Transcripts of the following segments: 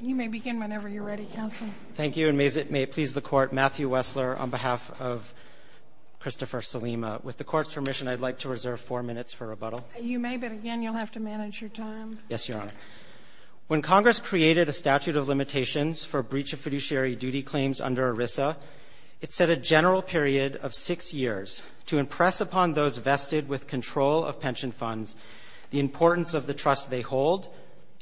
You may begin whenever you're ready, Counsel. Thank you, and may it please the Court, Matthew Wessler, on behalf of Christopher Sulyma. With the Court's permission, I'd like to reserve four minutes for rebuttal. You may, but again, you'll have to manage your time. Yes, Your Honor. When Congress created a statute of limitations for breach of fiduciary duty claims under ERISA, it set a general period of six years to impress upon those vested with control of pension funds the importance of the trust they hold,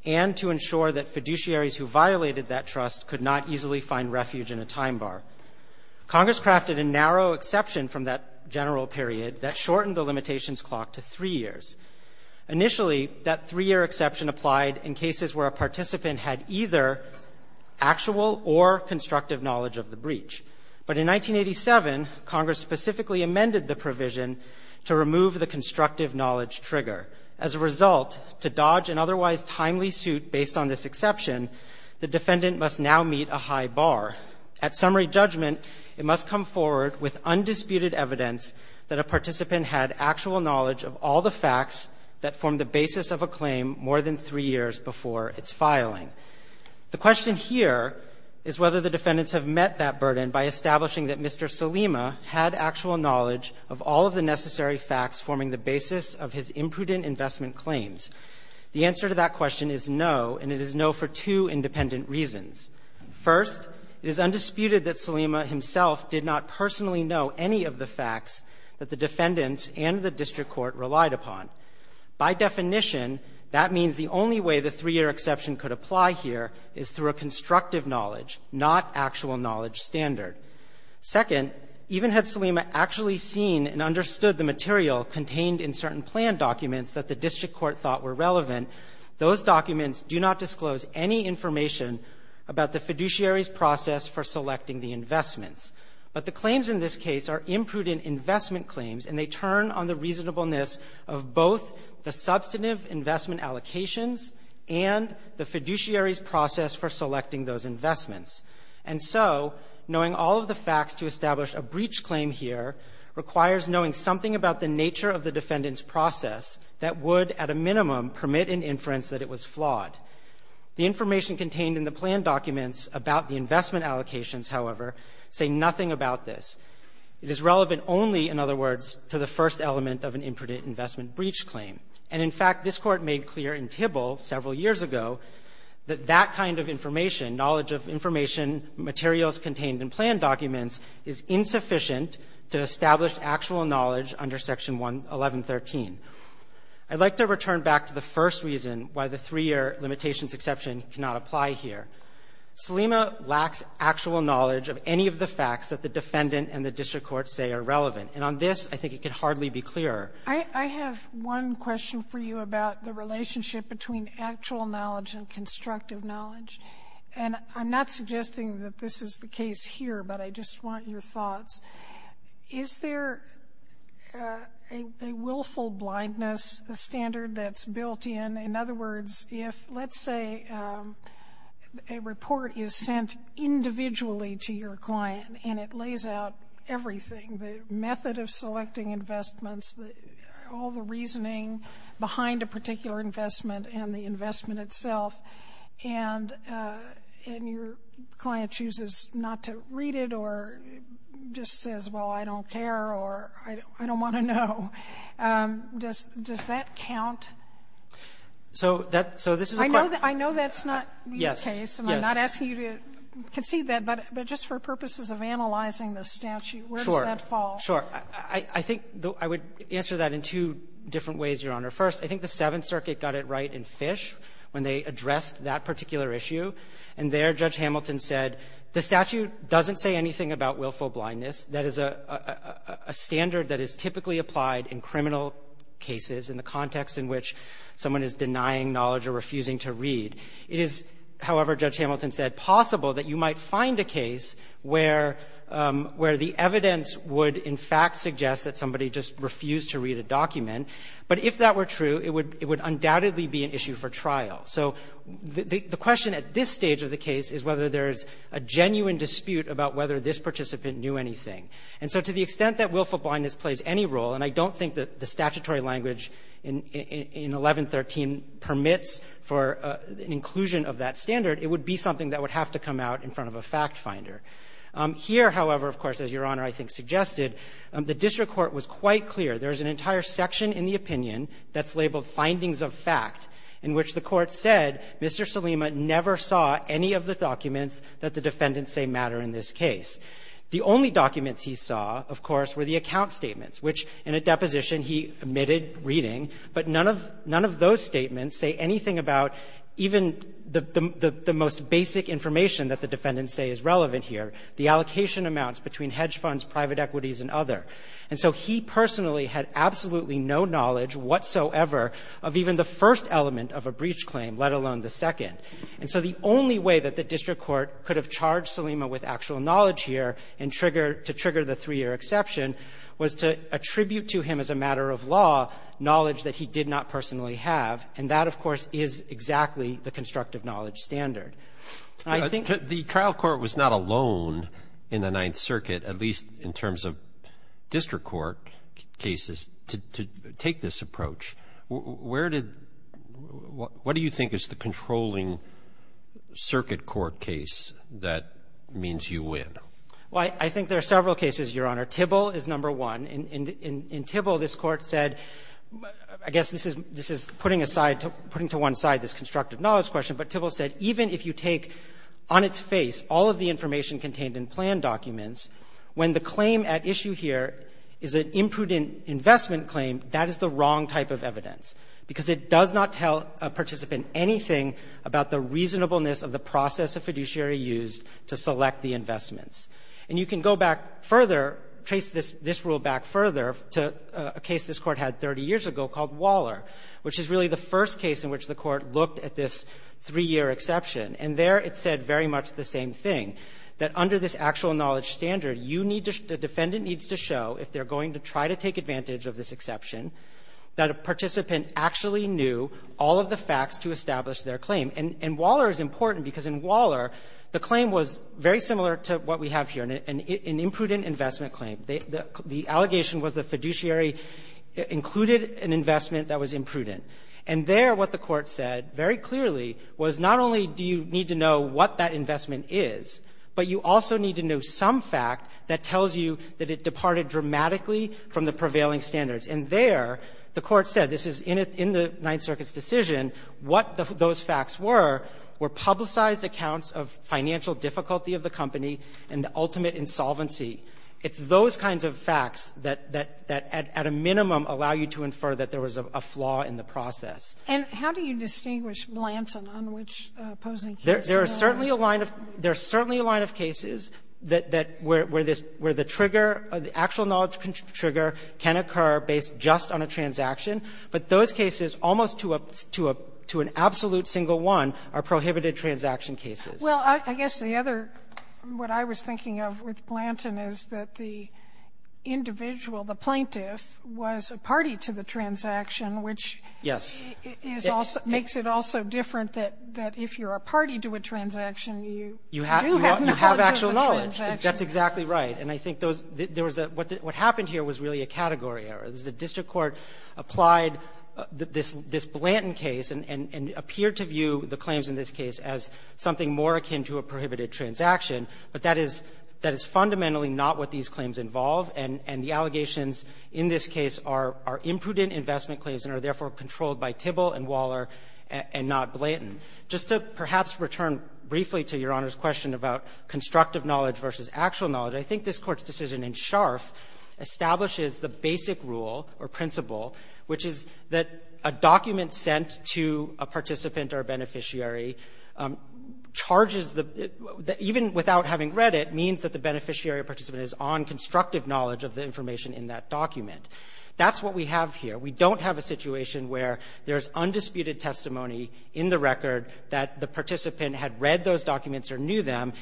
and to ensure that fiduciaries who violated that trust could not easily find refuge in a time bar. Congress crafted a narrow exception from that general period that shortened the limitations clock to three years. Initially, that three-year exception applied in cases where a participant had either actual or constructive knowledge of the breach. But in 1987, Congress specifically amended the provision to remove the constructive knowledge trigger. As a result, to dodge an otherwise timely suit based on this exception, the defendant must now meet a high bar. At summary judgment, it must come forward with undisputed evidence that a participant had actual knowledge of all the facts that formed the basis of a claim more than three years before its filing. The question here is whether the defendants have met that burden by establishing that Mr. Salima had actual knowledge of all of the necessary facts forming the basis of his imprudent investment claims. The answer to that question is no, and it is no for two independent reasons. First, it is undisputed that Salima himself did not personally know any of the facts that the defendants and the district court relied upon. By definition, that means the only way the three-year exception could apply here is through a constructive knowledge, not actual knowledge standard. Second, even had Salima actually seen and understood the material contained in certain plan documents that the district court thought were relevant, those documents do not disclose any information about the fiduciary's process for selecting the investments. But the claims in this case are imprudent investment claims, and they turn on the reasonableness of both the substantive investment allocations and the fiduciary's process for selecting those investments. And so knowing all of the facts to establish a breach claim here requires knowing something about the nature of the defendant's process that would, at a minimum, permit an inference that it was flawed. The information contained in the plan documents about the investment allocations, however, say nothing about this. It is relevant only, in other words, to the first element of an imprudent investment breach claim. And in fact, this Court made clear in Tybil several years ago that that kind of information, knowledge of information, materials contained in plan documents, is insufficient to establish actual knowledge under Section 1113. I'd like to return back to the first reason why the three-year limitations exception cannot apply here. Selima lacks actual knowledge of any of the facts that the defendant and the district court say are relevant. And on this, I think it can hardly be clearer. Sotomayor I have one question for you about the relationship between actual knowledge and constructive knowledge. And I'm not suggesting that this is the case here, but I just want your thoughts. Is there a willful blindness standard that's built in? In other words, if, let's say, a report is sent individually to your client and it lays out everything, the method of selecting investments, all the reasoning behind a particular investment and the investment itself, and your client chooses not to read it or just says, well, I don't care or I don't want to know, does that count? So that's so this is a question. I know that's not your case. Yes. And I'm not asking you to concede that. But just for purposes of analyzing the statute, where does that fall? Sure. I think I would answer that in two different ways, Your Honor. First, I think the Seventh Circuit got it right in Fish when they addressed that particular issue. And there, Judge Hamilton said, the statute doesn't say anything about willful blindness. That is a standard that is typically applied in criminal cases in the context in which someone is denying knowledge or refusing to read. It is, however, Judge Hamilton said, possible that you might find a case where the evidence would, in fact, suggest that somebody just refused to read a document. But if that were true, it would undoubtedly be an issue for trial. So the question at this stage of the case is whether there's a genuine dispute about whether this participant knew anything. And so to the extent that willful blindness plays any role, and I don't think that the statutory language in 1113 permits for an inclusion of that standard, it would be something that would have to come out in front of a factfinder. Here, however, of course, as Your Honor, I think, suggested, the district court was quite clear. There's an entire section in the opinion that's labeled findings of fact, in which the Court said Mr. Salima never saw any of the documents that the defendants say matter in this case. The only documents he saw, of course, were the account statements, which in a deposition he omitted reading. But none of those statements say anything about even the most basic information that the defendants say is relevant here, the allocation amounts between hedge funds, private equities, and other. And so he personally had absolutely no knowledge whatsoever of even the first element of a breach claim, let alone the second. And so the only way that the district court could have charged Salima with actual knowledge here and trigger the three-year exception was to attribute to him as a matter of law knowledge that he did not personally have. And that, of course, is exactly the constructive knowledge standard. And I think the trial court was not alone in the Ninth Circuit, at least in terms of district court cases, to take this approach. Where did the – what do you think is the controlling circuit court case that means you win? Well, I think there are several cases, Your Honor. Tybill is number one. In Tybill, this Court said – I guess this is putting aside – putting to one side this constructive knowledge question, but Tybill said even if you take on its face all of the information contained in plan documents, when the claim at issue here is an imprudent investment claim, that is the wrong type of evidence, because it does not tell a participant anything about the reasonableness of the process of fiduciary use to select the investments. And you can go back further, trace this rule back further to a case this Court had 30 years ago called Waller, which is really the first case in which the Court looked at this three-year exception. And there it said very much the same thing, that under this actual knowledge standard, you need to – the defendant needs to show, if they're going to try to take advantage of this exception, that a participant actually knew all of the facts to establish their claim. And Waller is important because in Waller, the claim was very similar to what we have here, an imprudent investment claim. The allegation was the fiduciary included an investment that was imprudent. And there what the Court said very clearly was not only do you need to know what that investment is, but you also need to know some fact that tells you that it departed dramatically from the prevailing standards. And there the Court said, this is in the Ninth Circuit's decision, what those facts were, were publicized accounts of financial difficulty of the company and the ultimate insolvency. It's those kinds of facts that at a minimum allow you to infer that there was a flaw in the process. And how do you distinguish Blanton on which opposing case? There are certainly a line of – there are certainly a line of cases that – where this – where the trigger, the actual knowledge trigger can occur based just on a transaction. But those cases, almost to a – to an absolute single one, are prohibited transaction cases. Well, I guess the other – what I was thinking of with Blanton is that the individual, the plaintiff, was a party to the transaction, which is also – makes it also different that if you're a party to a transaction, you do have knowledge of the transaction. That's exactly right. And I think there was a – what happened here was really a category error. The district court applied this Blanton case and appeared to view the claims in this case as something more akin to a prohibited transaction, but that is – that is fundamentally not what these claims involve. And the allegations in this case are imprudent investment claims and are, therefore, controlled by Tibble and Waller and not Blanton. Just to perhaps return briefly to Your Honor's question about constructive knowledge versus actual knowledge, I think this Court's decision in Scharf establishes the basic rule or principle, which is that a document sent to a participant or a beneficiary charges the – even without having read it, means that the beneficiary or participant is on constructive knowledge of the information in that document. That's what we have here. We don't have a situation where there's undisputed testimony in the record that the participant had read those documents or knew them,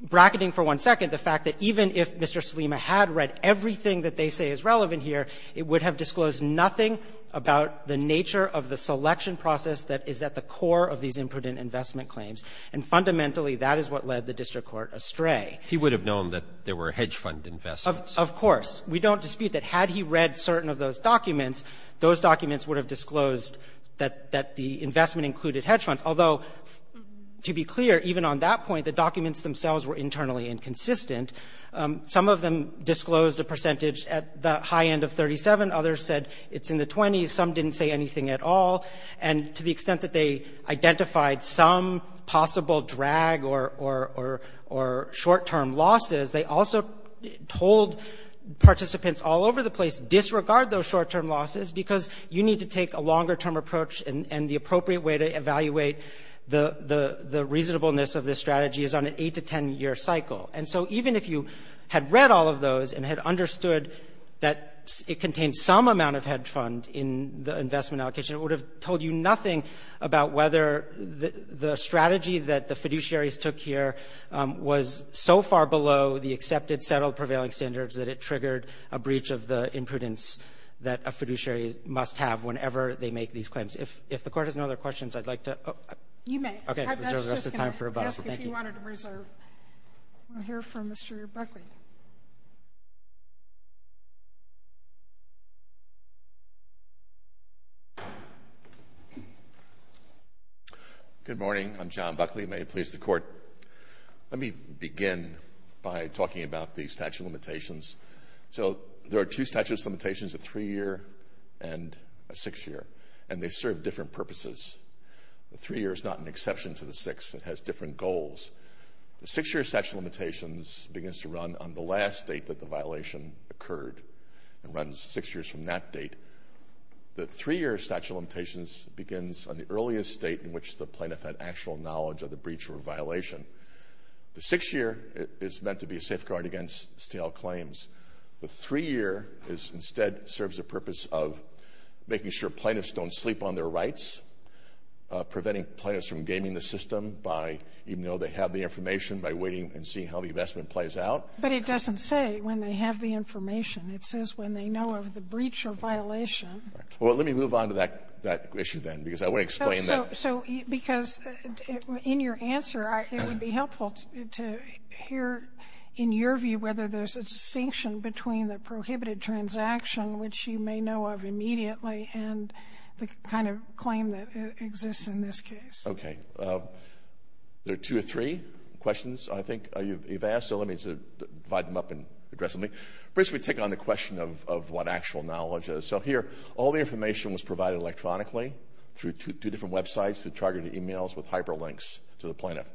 bracketing for one second the fact that even if Mr. Salima had read everything that they say is relevant here, it would have disclosed nothing about the nature of the selection process that is at the core of these imprudent investment claims. And fundamentally, that is what led the district court astray. He would have known that there were hedge fund investments. Of course. We don't dispute that. Had he read certain of those documents, those documents would have disclosed that the investment included hedge funds, although, to be clear, even on that point, the documents themselves were internally inconsistent. Some of them disclosed a percentage at the high end of 37. Others said it's in the 20s. Some didn't say anything at all. And to the extent that they identified some possible drag or short-term losses, they also told participants all over the place, disregard those short-term losses because you need to take a longer-term approach and the appropriate way to evaluate the reasonableness of this strategy is on an 8 to 10-year cycle. And so even if you had read all of those and had understood that it contained some amount of hedge fund in the investment allocation, it would have told you nothing about whether the strategy that the fiduciaries took here was so far below the accepted, settled, prevailing standards that it triggered a breach of the imprudence that a fiduciary must have whenever they make these claims. If the court has no other questions, I'd like to... You may. Okay. I was just going to ask if you wanted to reserve. We'll hear from Mr. Buckley. Good morning. I'm John Buckley. May it please the court. Let me begin by talking about the statute of limitations. So there are two statute of limitations, a three-year and a six-year, and they serve different purposes. The three-year is not an exception to the six. It has different goals. The six-year statute of limitations begins to run on the last date that the violation occurred and runs six years from that date. The three-year statute of limitations begins on the earliest date in which the plaintiff had actual knowledge of the breach or violation. The six-year is meant to be a safeguard against stale claims. The three-year instead serves the purpose of making sure plaintiffs don't sleep on their rights, preventing plaintiffs from gaming the system by, even though they have the information, by waiting and seeing how the investment plays out. But it doesn't say when they have the information. It says when they know of the breach or violation. Well, let me move on to that issue then, because I want to explain that. So, because in your answer, it would be helpful to hear in your view whether there's a distinction between the prohibited transaction, which you may know of immediately, and the kind of claim that exists in this case. Okay. There are two or three questions, I think, you've asked. So, let me divide them up and address them. First, we take on the question of what actual knowledge is. So, here, all the information was provided electronically through two different websites that targeted emails with hyperlinks to the plaintiff,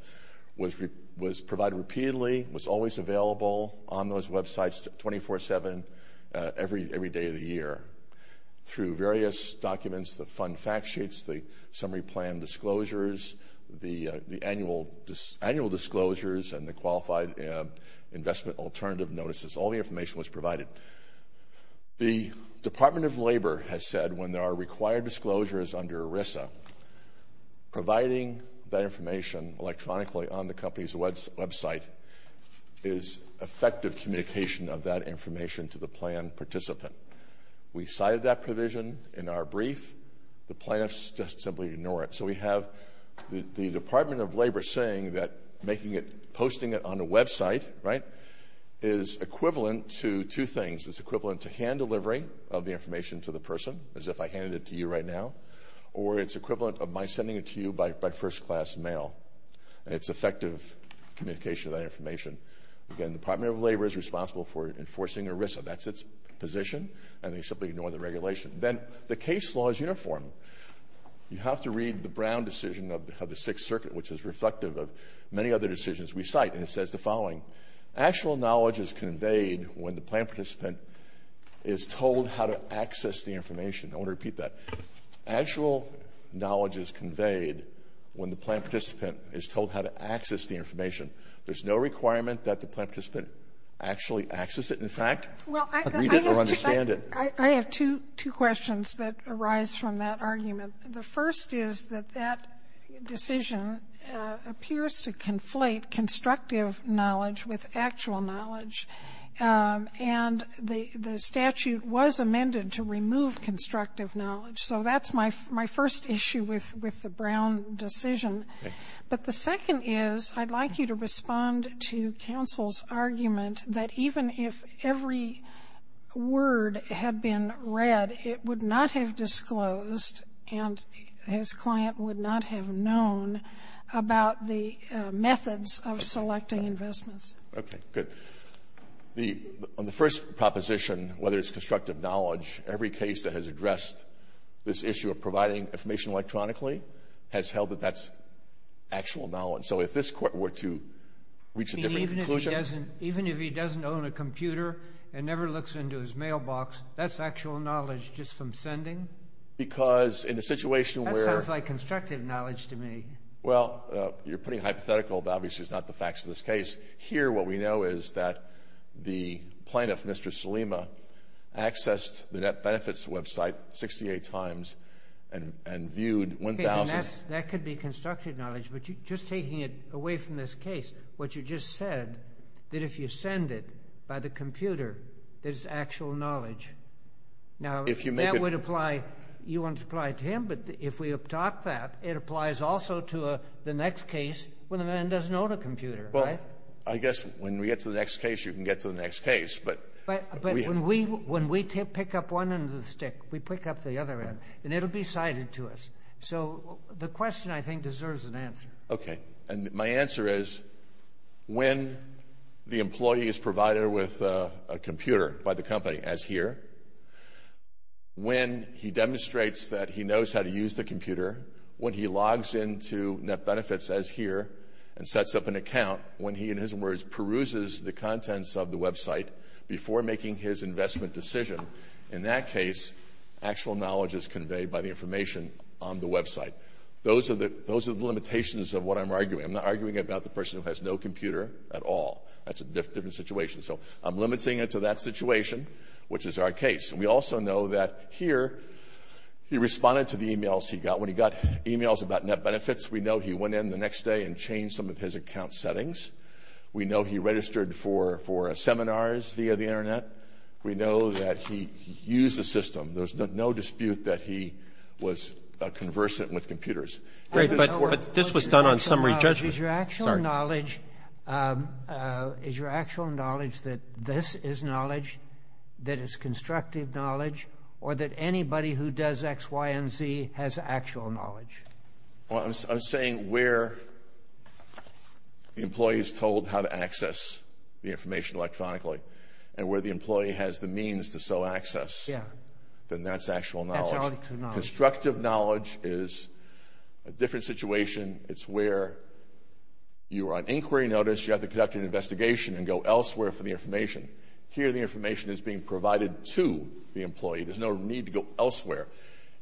was provided repeatedly, was always available on those websites 24-7 every day of the year. Through various documents, the fund fact sheets, the summary plan disclosures, the annual disclosures, and the qualified investment alternative notices, all the information was provided. The Department of Labor has said when there are required disclosures under ERISA, providing that information electronically on the company's website is effective communication of that information to the plan participant. We cited that provision in our brief. The plaintiffs just simply ignore it. So, we have the Department of Labor saying that making it, posting it on a website, right, is equivalent to two things. It's equivalent to hand delivery of the information to the person, as if I handed it to you right now, or it's equivalent of my sending it to you by first-class mail, and it's effective communication of that information. Again, the Department of Labor is responsible for enforcing ERISA. That's its position, and they simply ignore the regulation. Then, the case law is uniform. You have to read the Brown decision of the Sixth Circuit, which is reflective of many other decisions we cite, and it says the following. Actual knowledge is conveyed when the plan participant is told how to access the information. I want to repeat that. Actual knowledge is conveyed when the plan participant is told how to access the information. There's no requirement that the plan participant actually access it. In fact, read it or understand it. I have two questions that arise from that argument. The first is that that decision appears to conflate constructive knowledge with actual knowledge, and the statute was amended to remove constructive knowledge. So that's my first issue with the Brown decision. But the second is I'd like you to respond to counsel's argument that even if every word had been read, it would not have disclosed and his client would not have known about the methods of selecting investments. Okay, good. On the first proposition, whether it's constructive knowledge, every case that has addressed this issue of providing information electronically has held that that's actual knowledge. So if this court were to reach a different conclusion— Even if he doesn't own a computer and never looks into his mailbox, that's actual knowledge just from sending? Because in a situation where— That sounds like constructive knowledge to me. Well, you're putting hypothetical, but obviously it's not the facts of this case. Here what we know is that the plaintiff, Mr. Salima, accessed the Net Benefits website 68 times and viewed 1,000— That could be constructive knowledge, but just taking it away from this case, what you just said, that if you send it by the computer, there's actual knowledge. Now, that would apply—you want to apply it to him, but if we adopt that, it applies also to the next case when the man doesn't own a computer, right? Well, I guess when we get to the next case, you can get to the next case, but— But when we pick up one end of the stick, we pick up the other end, and it'll be cited to us. So, the question, I think, deserves an answer. Okay. And my answer is, when the employee is provided with a computer by the company, as here, when he demonstrates that he knows how to use the computer, when he logs into Net Benefits, as here, and sets up an account, when he, in his words, peruses the contents of the website before making his investment decision, in that case, actual knowledge is conveyed by the information on the website. Those are the limitations of what I'm arguing. I'm not arguing about the person who has no computer at all. That's a different situation. So, I'm limiting it to that situation, which is our case. And we also know that, here, he responded to the emails he got. When he got emails about Net Benefits, we know he went in the next day and changed some of his account settings. We know he registered for seminars via the Internet. We know that he used the system. There's no dispute that he was conversant with computers. Right, but this was done on summary judgment. Is your actual knowledge that this is knowledge, that it's constructive knowledge, or that anybody who does X, Y, and Z has actual knowledge? Well, I'm saying where the employee is told how to access the information electronically and where the employee has the means to so access, then that's actual knowledge. Constructive knowledge is a different situation. It's where you are on inquiry notice. You have to conduct an investigation and go elsewhere for the information. Here, the information is being provided to the employee. There's no need to go elsewhere.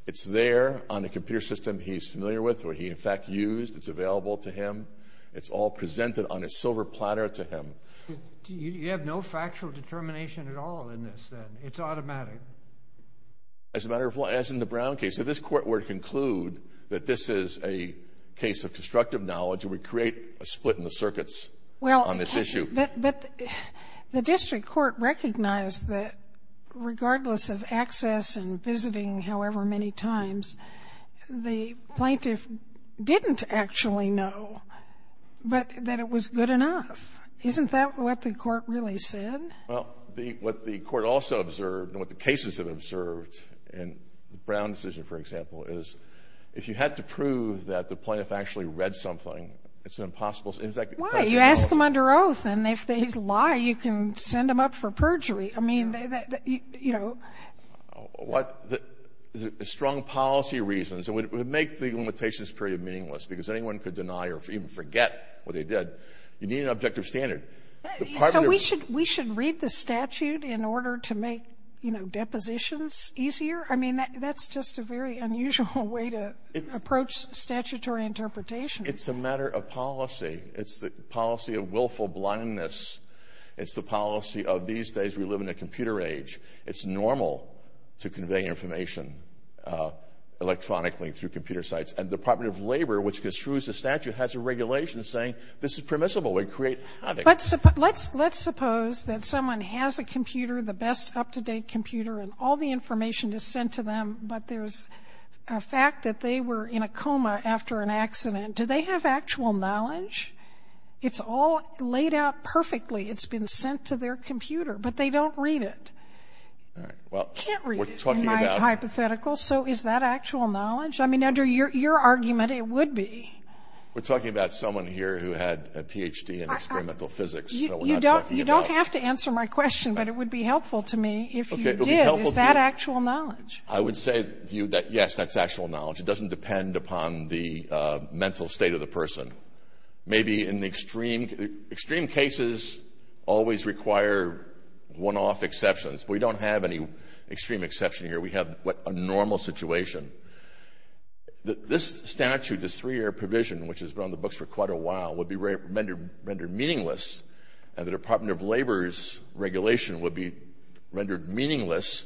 It's there on a computer system he's familiar with, or he, in fact, used. It's available to him. It's all presented on a silver platter to him. You have no factual determination at all in this, then? It's automatic. As a matter of law, as in the Brown case, if this Court were to conclude that this is a case of constructive knowledge, it would create a split in the circuits on this issue. But the district court recognized that regardless of access and visiting however many times, the plaintiff didn't actually know, but that it was good enough. Isn't that what the Court really said? Well, what the Court also observed, and what the cases have observed in the Brown decision, for example, is if you had to prove that the plaintiff actually read something, it's an impossible question. Why? You ask them under oath, and if they lie, you can send them up for perjury. I mean, you know. What the strong policy reasons, it would make the limitations period meaningless, because anyone could deny or even forget what they did. You need an objective standard. So we should read the statute in order to make, you know, depositions easier? I mean, that's just a very unusual way to approach statutory interpretation. It's a matter of policy. It's the policy of willful blindness. It's the policy of these days we live in a computer age. It's normal to convey information electronically through computer sites. And the Department of Labor, which construes the statute, has a regulation saying, this is permissible. We create havoc. Let's suppose that someone has a computer, the best up-to-date computer, and all the information is sent to them, but there's a fact that they were in a coma after an accident. Do they have actual knowledge? It's all laid out perfectly. It's been sent to their computer. But they don't read it. All right. Well, we're talking about We can't read it in my hypothetical. So is that actual knowledge? I mean, under your argument, it would be. We're talking about someone here who had a Ph.D. in experimental physics. You don't have to answer my question, but it would be helpful to me if you did. Is that actual knowledge? I would say to you that, yes, that's actual knowledge. It doesn't depend upon the mental state of the person. Maybe in the extreme cases always require one-off exceptions. We don't have any extreme exception here. We have a normal situation. This statute, this three-year provision, which has been on the books for quite a while, would be rendered meaningless, and the Department of Labor's regulation would be rendered meaningless,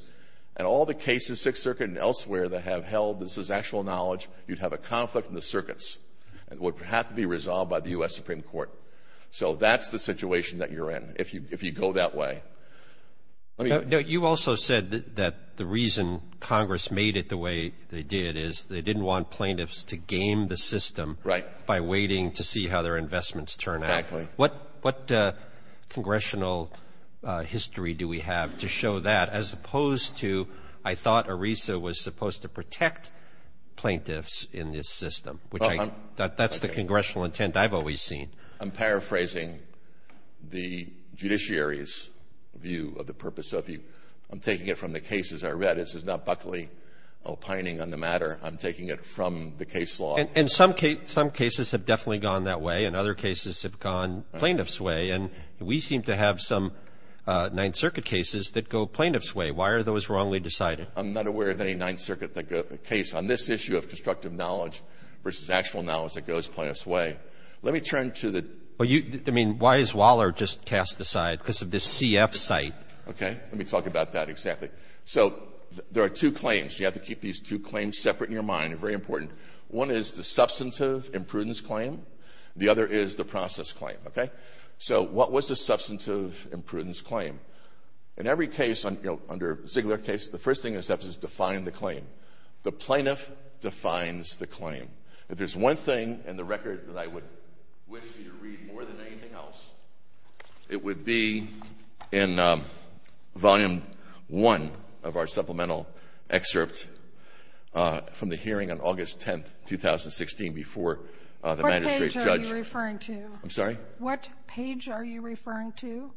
and all the cases, Sixth Circuit and elsewhere, that have held this as actual knowledge, you'd have a conflict in the circuits, and would have to be resolved by the U.S. Supreme Court. So that's the situation that you're in, if you go that way. You also said that the reason Congress made it the way they did is they didn't want plaintiffs to game the system by waiting to see how their investments turn out. What congressional history do we have to show that, as opposed to, I thought ERISA was supposed to protect plaintiffs in this system? That's the congressional intent I've always seen. I'm paraphrasing the judiciary's view of the purpose. So I'm taking it from the cases I read. This is not Buckley opining on the matter. I'm taking it from the case law. And some cases have definitely gone that way, and other cases have gone plaintiff's way. And we seem to have some Ninth Circuit cases that go plaintiff's way. Why are those wrongly decided? I'm not aware of any Ninth Circuit case on this issue of constructive knowledge versus actual knowledge that goes plaintiff's way. Let me turn to the — Well, you — I mean, why is Waller just cast aside? Because of this CF site. Okay. Let me talk about that exactly. So there are two claims. You have to keep these two claims separate in your mind. They're very important. One is the substantive imprudence claim. The other is the process claim. Okay? So what was the substantive imprudence claim? In every case, you know, under Ziegler case, the first thing is to define the claim. The plaintiff defines the claim. If there's one thing in the record that I would wish you to read more than anything else, it would be in Volume 1 of our supplemental excerpt from the hearing on August 10th, 2016, before the magistrate's judge — What page are you referring to? I'm sorry? What page are you referring to?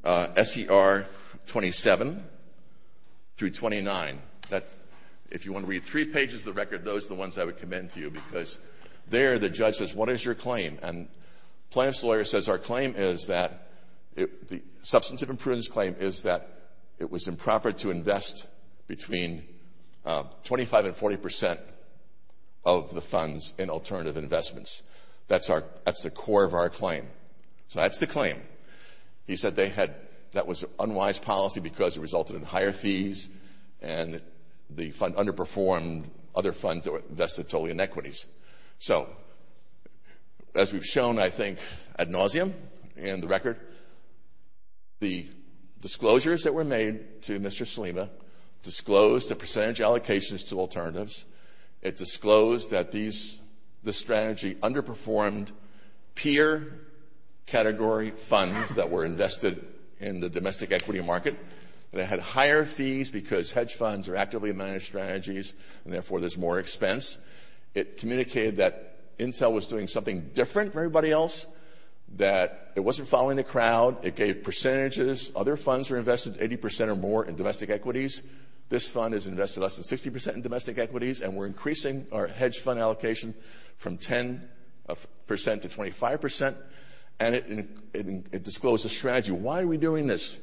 SER 27 through 29. That's — if you want to read three pages of the record, those are the ones I would recommend to you because there the judge says, what is your claim? And the plaintiff's lawyer says, our claim is that — the substantive imprudence claim is that it was improper to invest between 25 and 40 percent of the funds in alternative investments. That's our — that's the core of our claim. So that's the claim. He said they had — that was an unwise policy because it resulted in higher fees and the fund — underperformed other funds that were invested totally in equities. So as we've shown, I think, ad nauseum in the record, the disclosures that were made to Mr. Salima disclosed the percentage allocations to alternatives. It disclosed that these — the strategy underperformed peer category funds that were invested in the domestic equity market. They had higher fees because hedge funds are actively managed strategies and, therefore, there's more expense. It communicated that Intel was doing something different from everybody else, that it wasn't following the crowd. It gave percentages. Other funds were invested 80 percent or more in domestic equities. This fund is invested less than 60 percent in domestic equities, and we're increasing our hedge fund allocation from 10 percent to 25 percent. And it disclosed the strategy. Why are we doing this?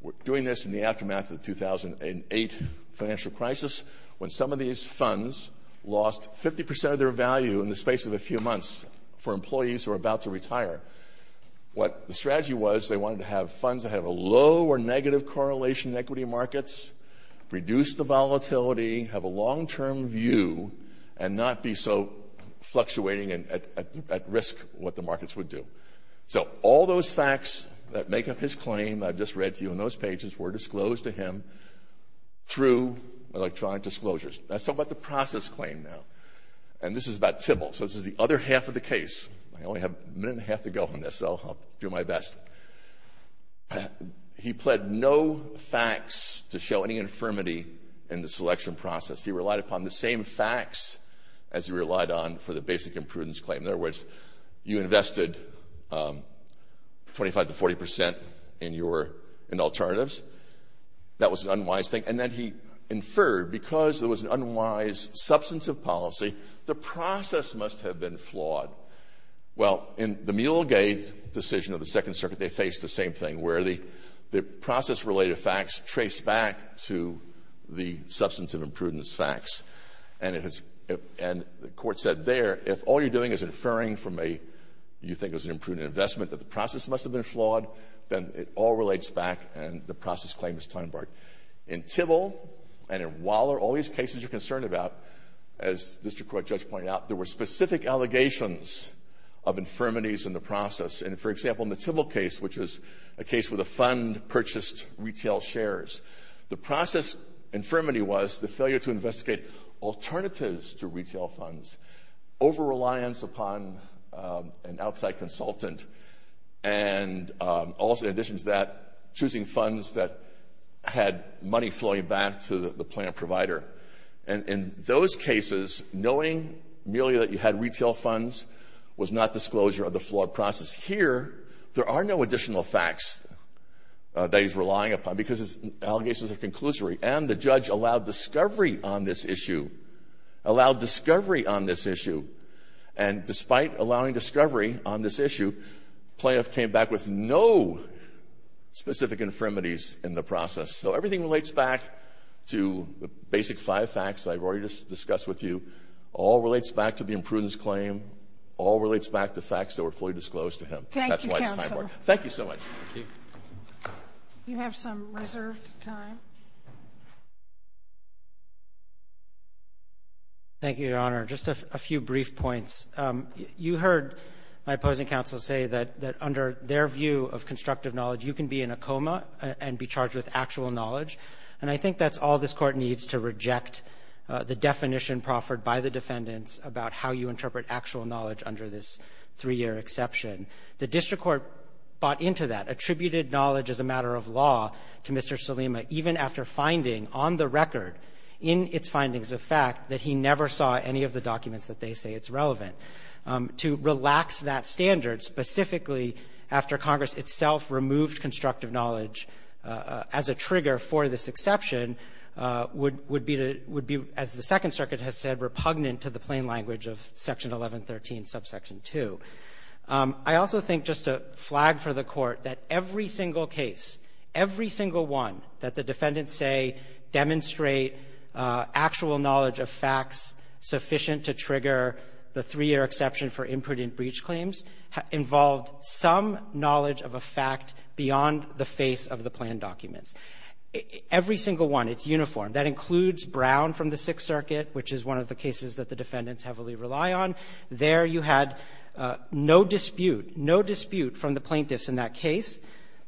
We're doing this in the aftermath of the 2008 financial crisis when some of these funds lost 50 percent of their value in the space of a few months for employees who are about to retire. What the strategy was, they wanted to have funds that have a low or negative correlation in equity markets, reduce the volatility, have a long-term view, and not be so fluctuating and at risk what the markets would do. So all those facts that make up his claim I've just read to you on those pages were disclosed to him through electronic disclosures. Let's talk about the process claim now. And this is about Tybill. So this is the other half of the case. I only have a minute and a half to go on this, so I'll do my best. He pled no facts to show any infirmity in the selection process. He relied upon the same facts as he relied on for the basic imprudence claim. In other words, you invested 25 to 40 percent in alternatives. That was an unwise thing. And then he inferred, because there was an unwise substantive policy, the process must have been flawed. Well, in the Mueller-Gate decision of the Second Circuit, they faced the same thing, where the process-related facts trace back to the substantive imprudence facts. And it has — and the Court said there, if all you're doing is inferring from a — you think it was an imprudent investment, that the process must have been flawed, then it all relates back, and the process claim is time-barred. In Tybill and in Waller, all these cases you're concerned about, as the district court judge pointed out, there were specific allegations of infirmities in the process. And, for example, in the Tybill case, which is a case with a fund purchased retail The process infirmity was the failure to investigate alternatives to retail funds, over-reliance upon an outside consultant, and also, in addition to that, choosing funds that had money flowing back to the plant provider. And in those cases, knowing merely that you had retail funds was not disclosure of the flawed process. Here, there are no additional facts that he's relying upon, because his allegations are conclusory. And the judge allowed discovery on this issue — allowed discovery on this issue. And despite allowing discovery on this issue, plaintiff came back with no specific infirmities in the process. So everything relates back to the basic five facts I've already discussed with you. All relates back to the imprudence claim. All relates back to facts that were fully disclosed to him. That's why it's time-borne. Thank you, counsel. Thank you so much. You have some reserved time. Thank you, Your Honor. Just a few brief points. You heard my opposing counsel say that under their view of constructive knowledge, you can be in a coma and be charged with actual knowledge. And I think that's all this Court needs to reject the definition proffered by the defendants about how you interpret actual knowledge under this three-year exception. The district court bought into that, attributed knowledge as a matter of law to Mr. Salima, even after finding on the record, in its findings of fact, that he never saw any of the documents that they say it's relevant. To relax that standard specifically after Congress itself removed constructive knowledge as a trigger for this exception would be, as the Second Circuit has said, repugnant to the plain language of Section 1113, Subsection 2. I also think, just to flag for the Court, that every single case, every single one that the defendants say demonstrate actual knowledge of facts sufficient to trigger the three-year exception for imprudent breach claims involved some knowledge of a fact beyond the face of the planned documents. Every single one, it's uniform. That includes Brown from the Sixth Circuit, which is one of the cases that the defendants heavily rely on. There, you had no dispute, no dispute from the plaintiffs in that case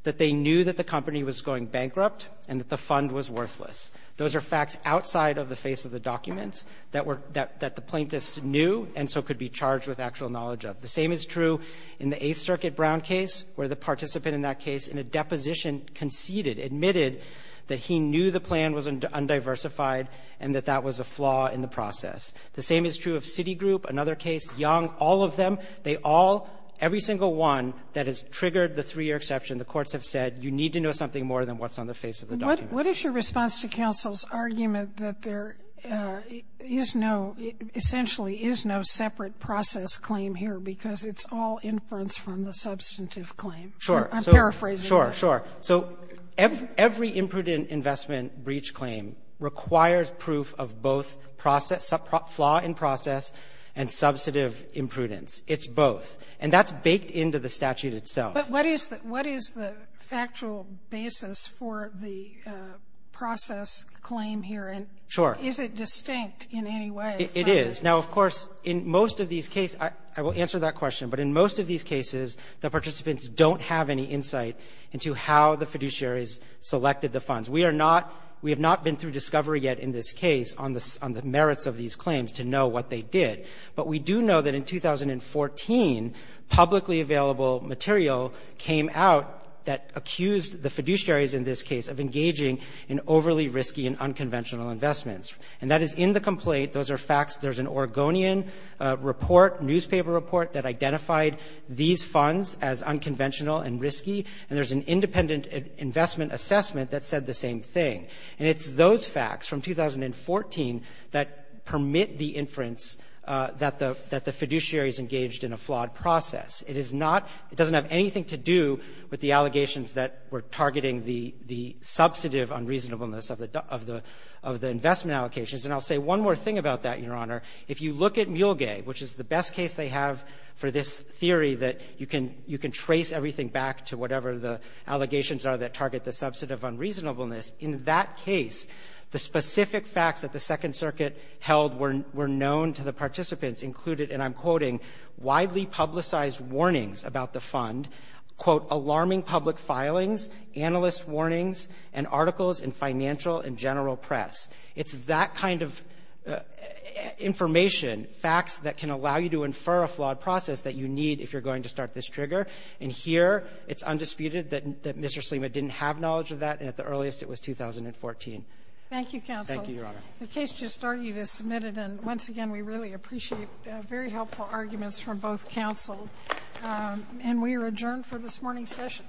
that they knew that the company was going bankrupt and that the fund was worthless. Those are facts outside of the face of the documents that were — that the plaintiffs knew and so could be charged with actual knowledge of. The same is true in the Eighth Circuit Brown case, where the participant in that case, in a deposition, conceded, admitted that he knew the plan was undiversified and that that was a flaw in the process. The same is true of Citigroup, another case, Young, all of them. They all, every single one that has triggered the three-year exception, the courts have said, you need to know something more than what's on the face of the documents. Sotomayor, what is your response to counsel's argument that there is no — essentially is no separate process claim here because it's all inference from the substantive claim? Sure. I'm paraphrasing. Sure. Sure. So every imprudent investment breach claim requires proof of both process — flaw in process and substantive imprudence. It's both. And that's baked into the statute itself. But what is the — what is the factual basis for the process claim here? Sure. And is it distinct in any way? It is. Now, of course, in most of these cases — I will answer that question. But in most of these cases, the participants don't have any insight into how the fiduciaries selected the funds. We are not — we have not been through discovery yet in this case on the merits of these claims to know what they did. But we do know that in 2014, publicly available material came out that accused the fiduciaries in this case of engaging in overly risky and unconventional investments. And that is in the complaint. Those are facts. There's an Oregonian report, newspaper report, that identified these funds as unconventional and risky. And there's an independent investment assessment that said the same thing. And it's those facts from 2014 that permit the inference that the — that the fiduciaries engaged in a flawed process. It is not — it doesn't have anything to do with the allegations that were targeting the — the substantive unreasonableness of the — of the — of the investment allocations. And I'll say one more thing about that, Your Honor. If you look at Mulegay, which is the best case they have for this theory that you can — you can trace everything back to whatever the allegations are that target the substantive unreasonableness, in that case, the specific facts that the Second Circuit held were — were known to the participants included, and I'm quoting, widely publicized warnings about the fund, quote, alarming public filings, analyst warnings, and articles in financial and general press. It's that kind of information, facts that can allow you to infer a flawed process that you need if you're going to start this trigger. And here, it's undisputed that — that Mr. Salima didn't have knowledge of that, and at the earliest, it was 2014. Thank you, counsel. Thank you, Your Honor. The case just argued is submitted, and once again, we really appreciate very helpful arguments from both counsel. And we are adjourned for this morning's session.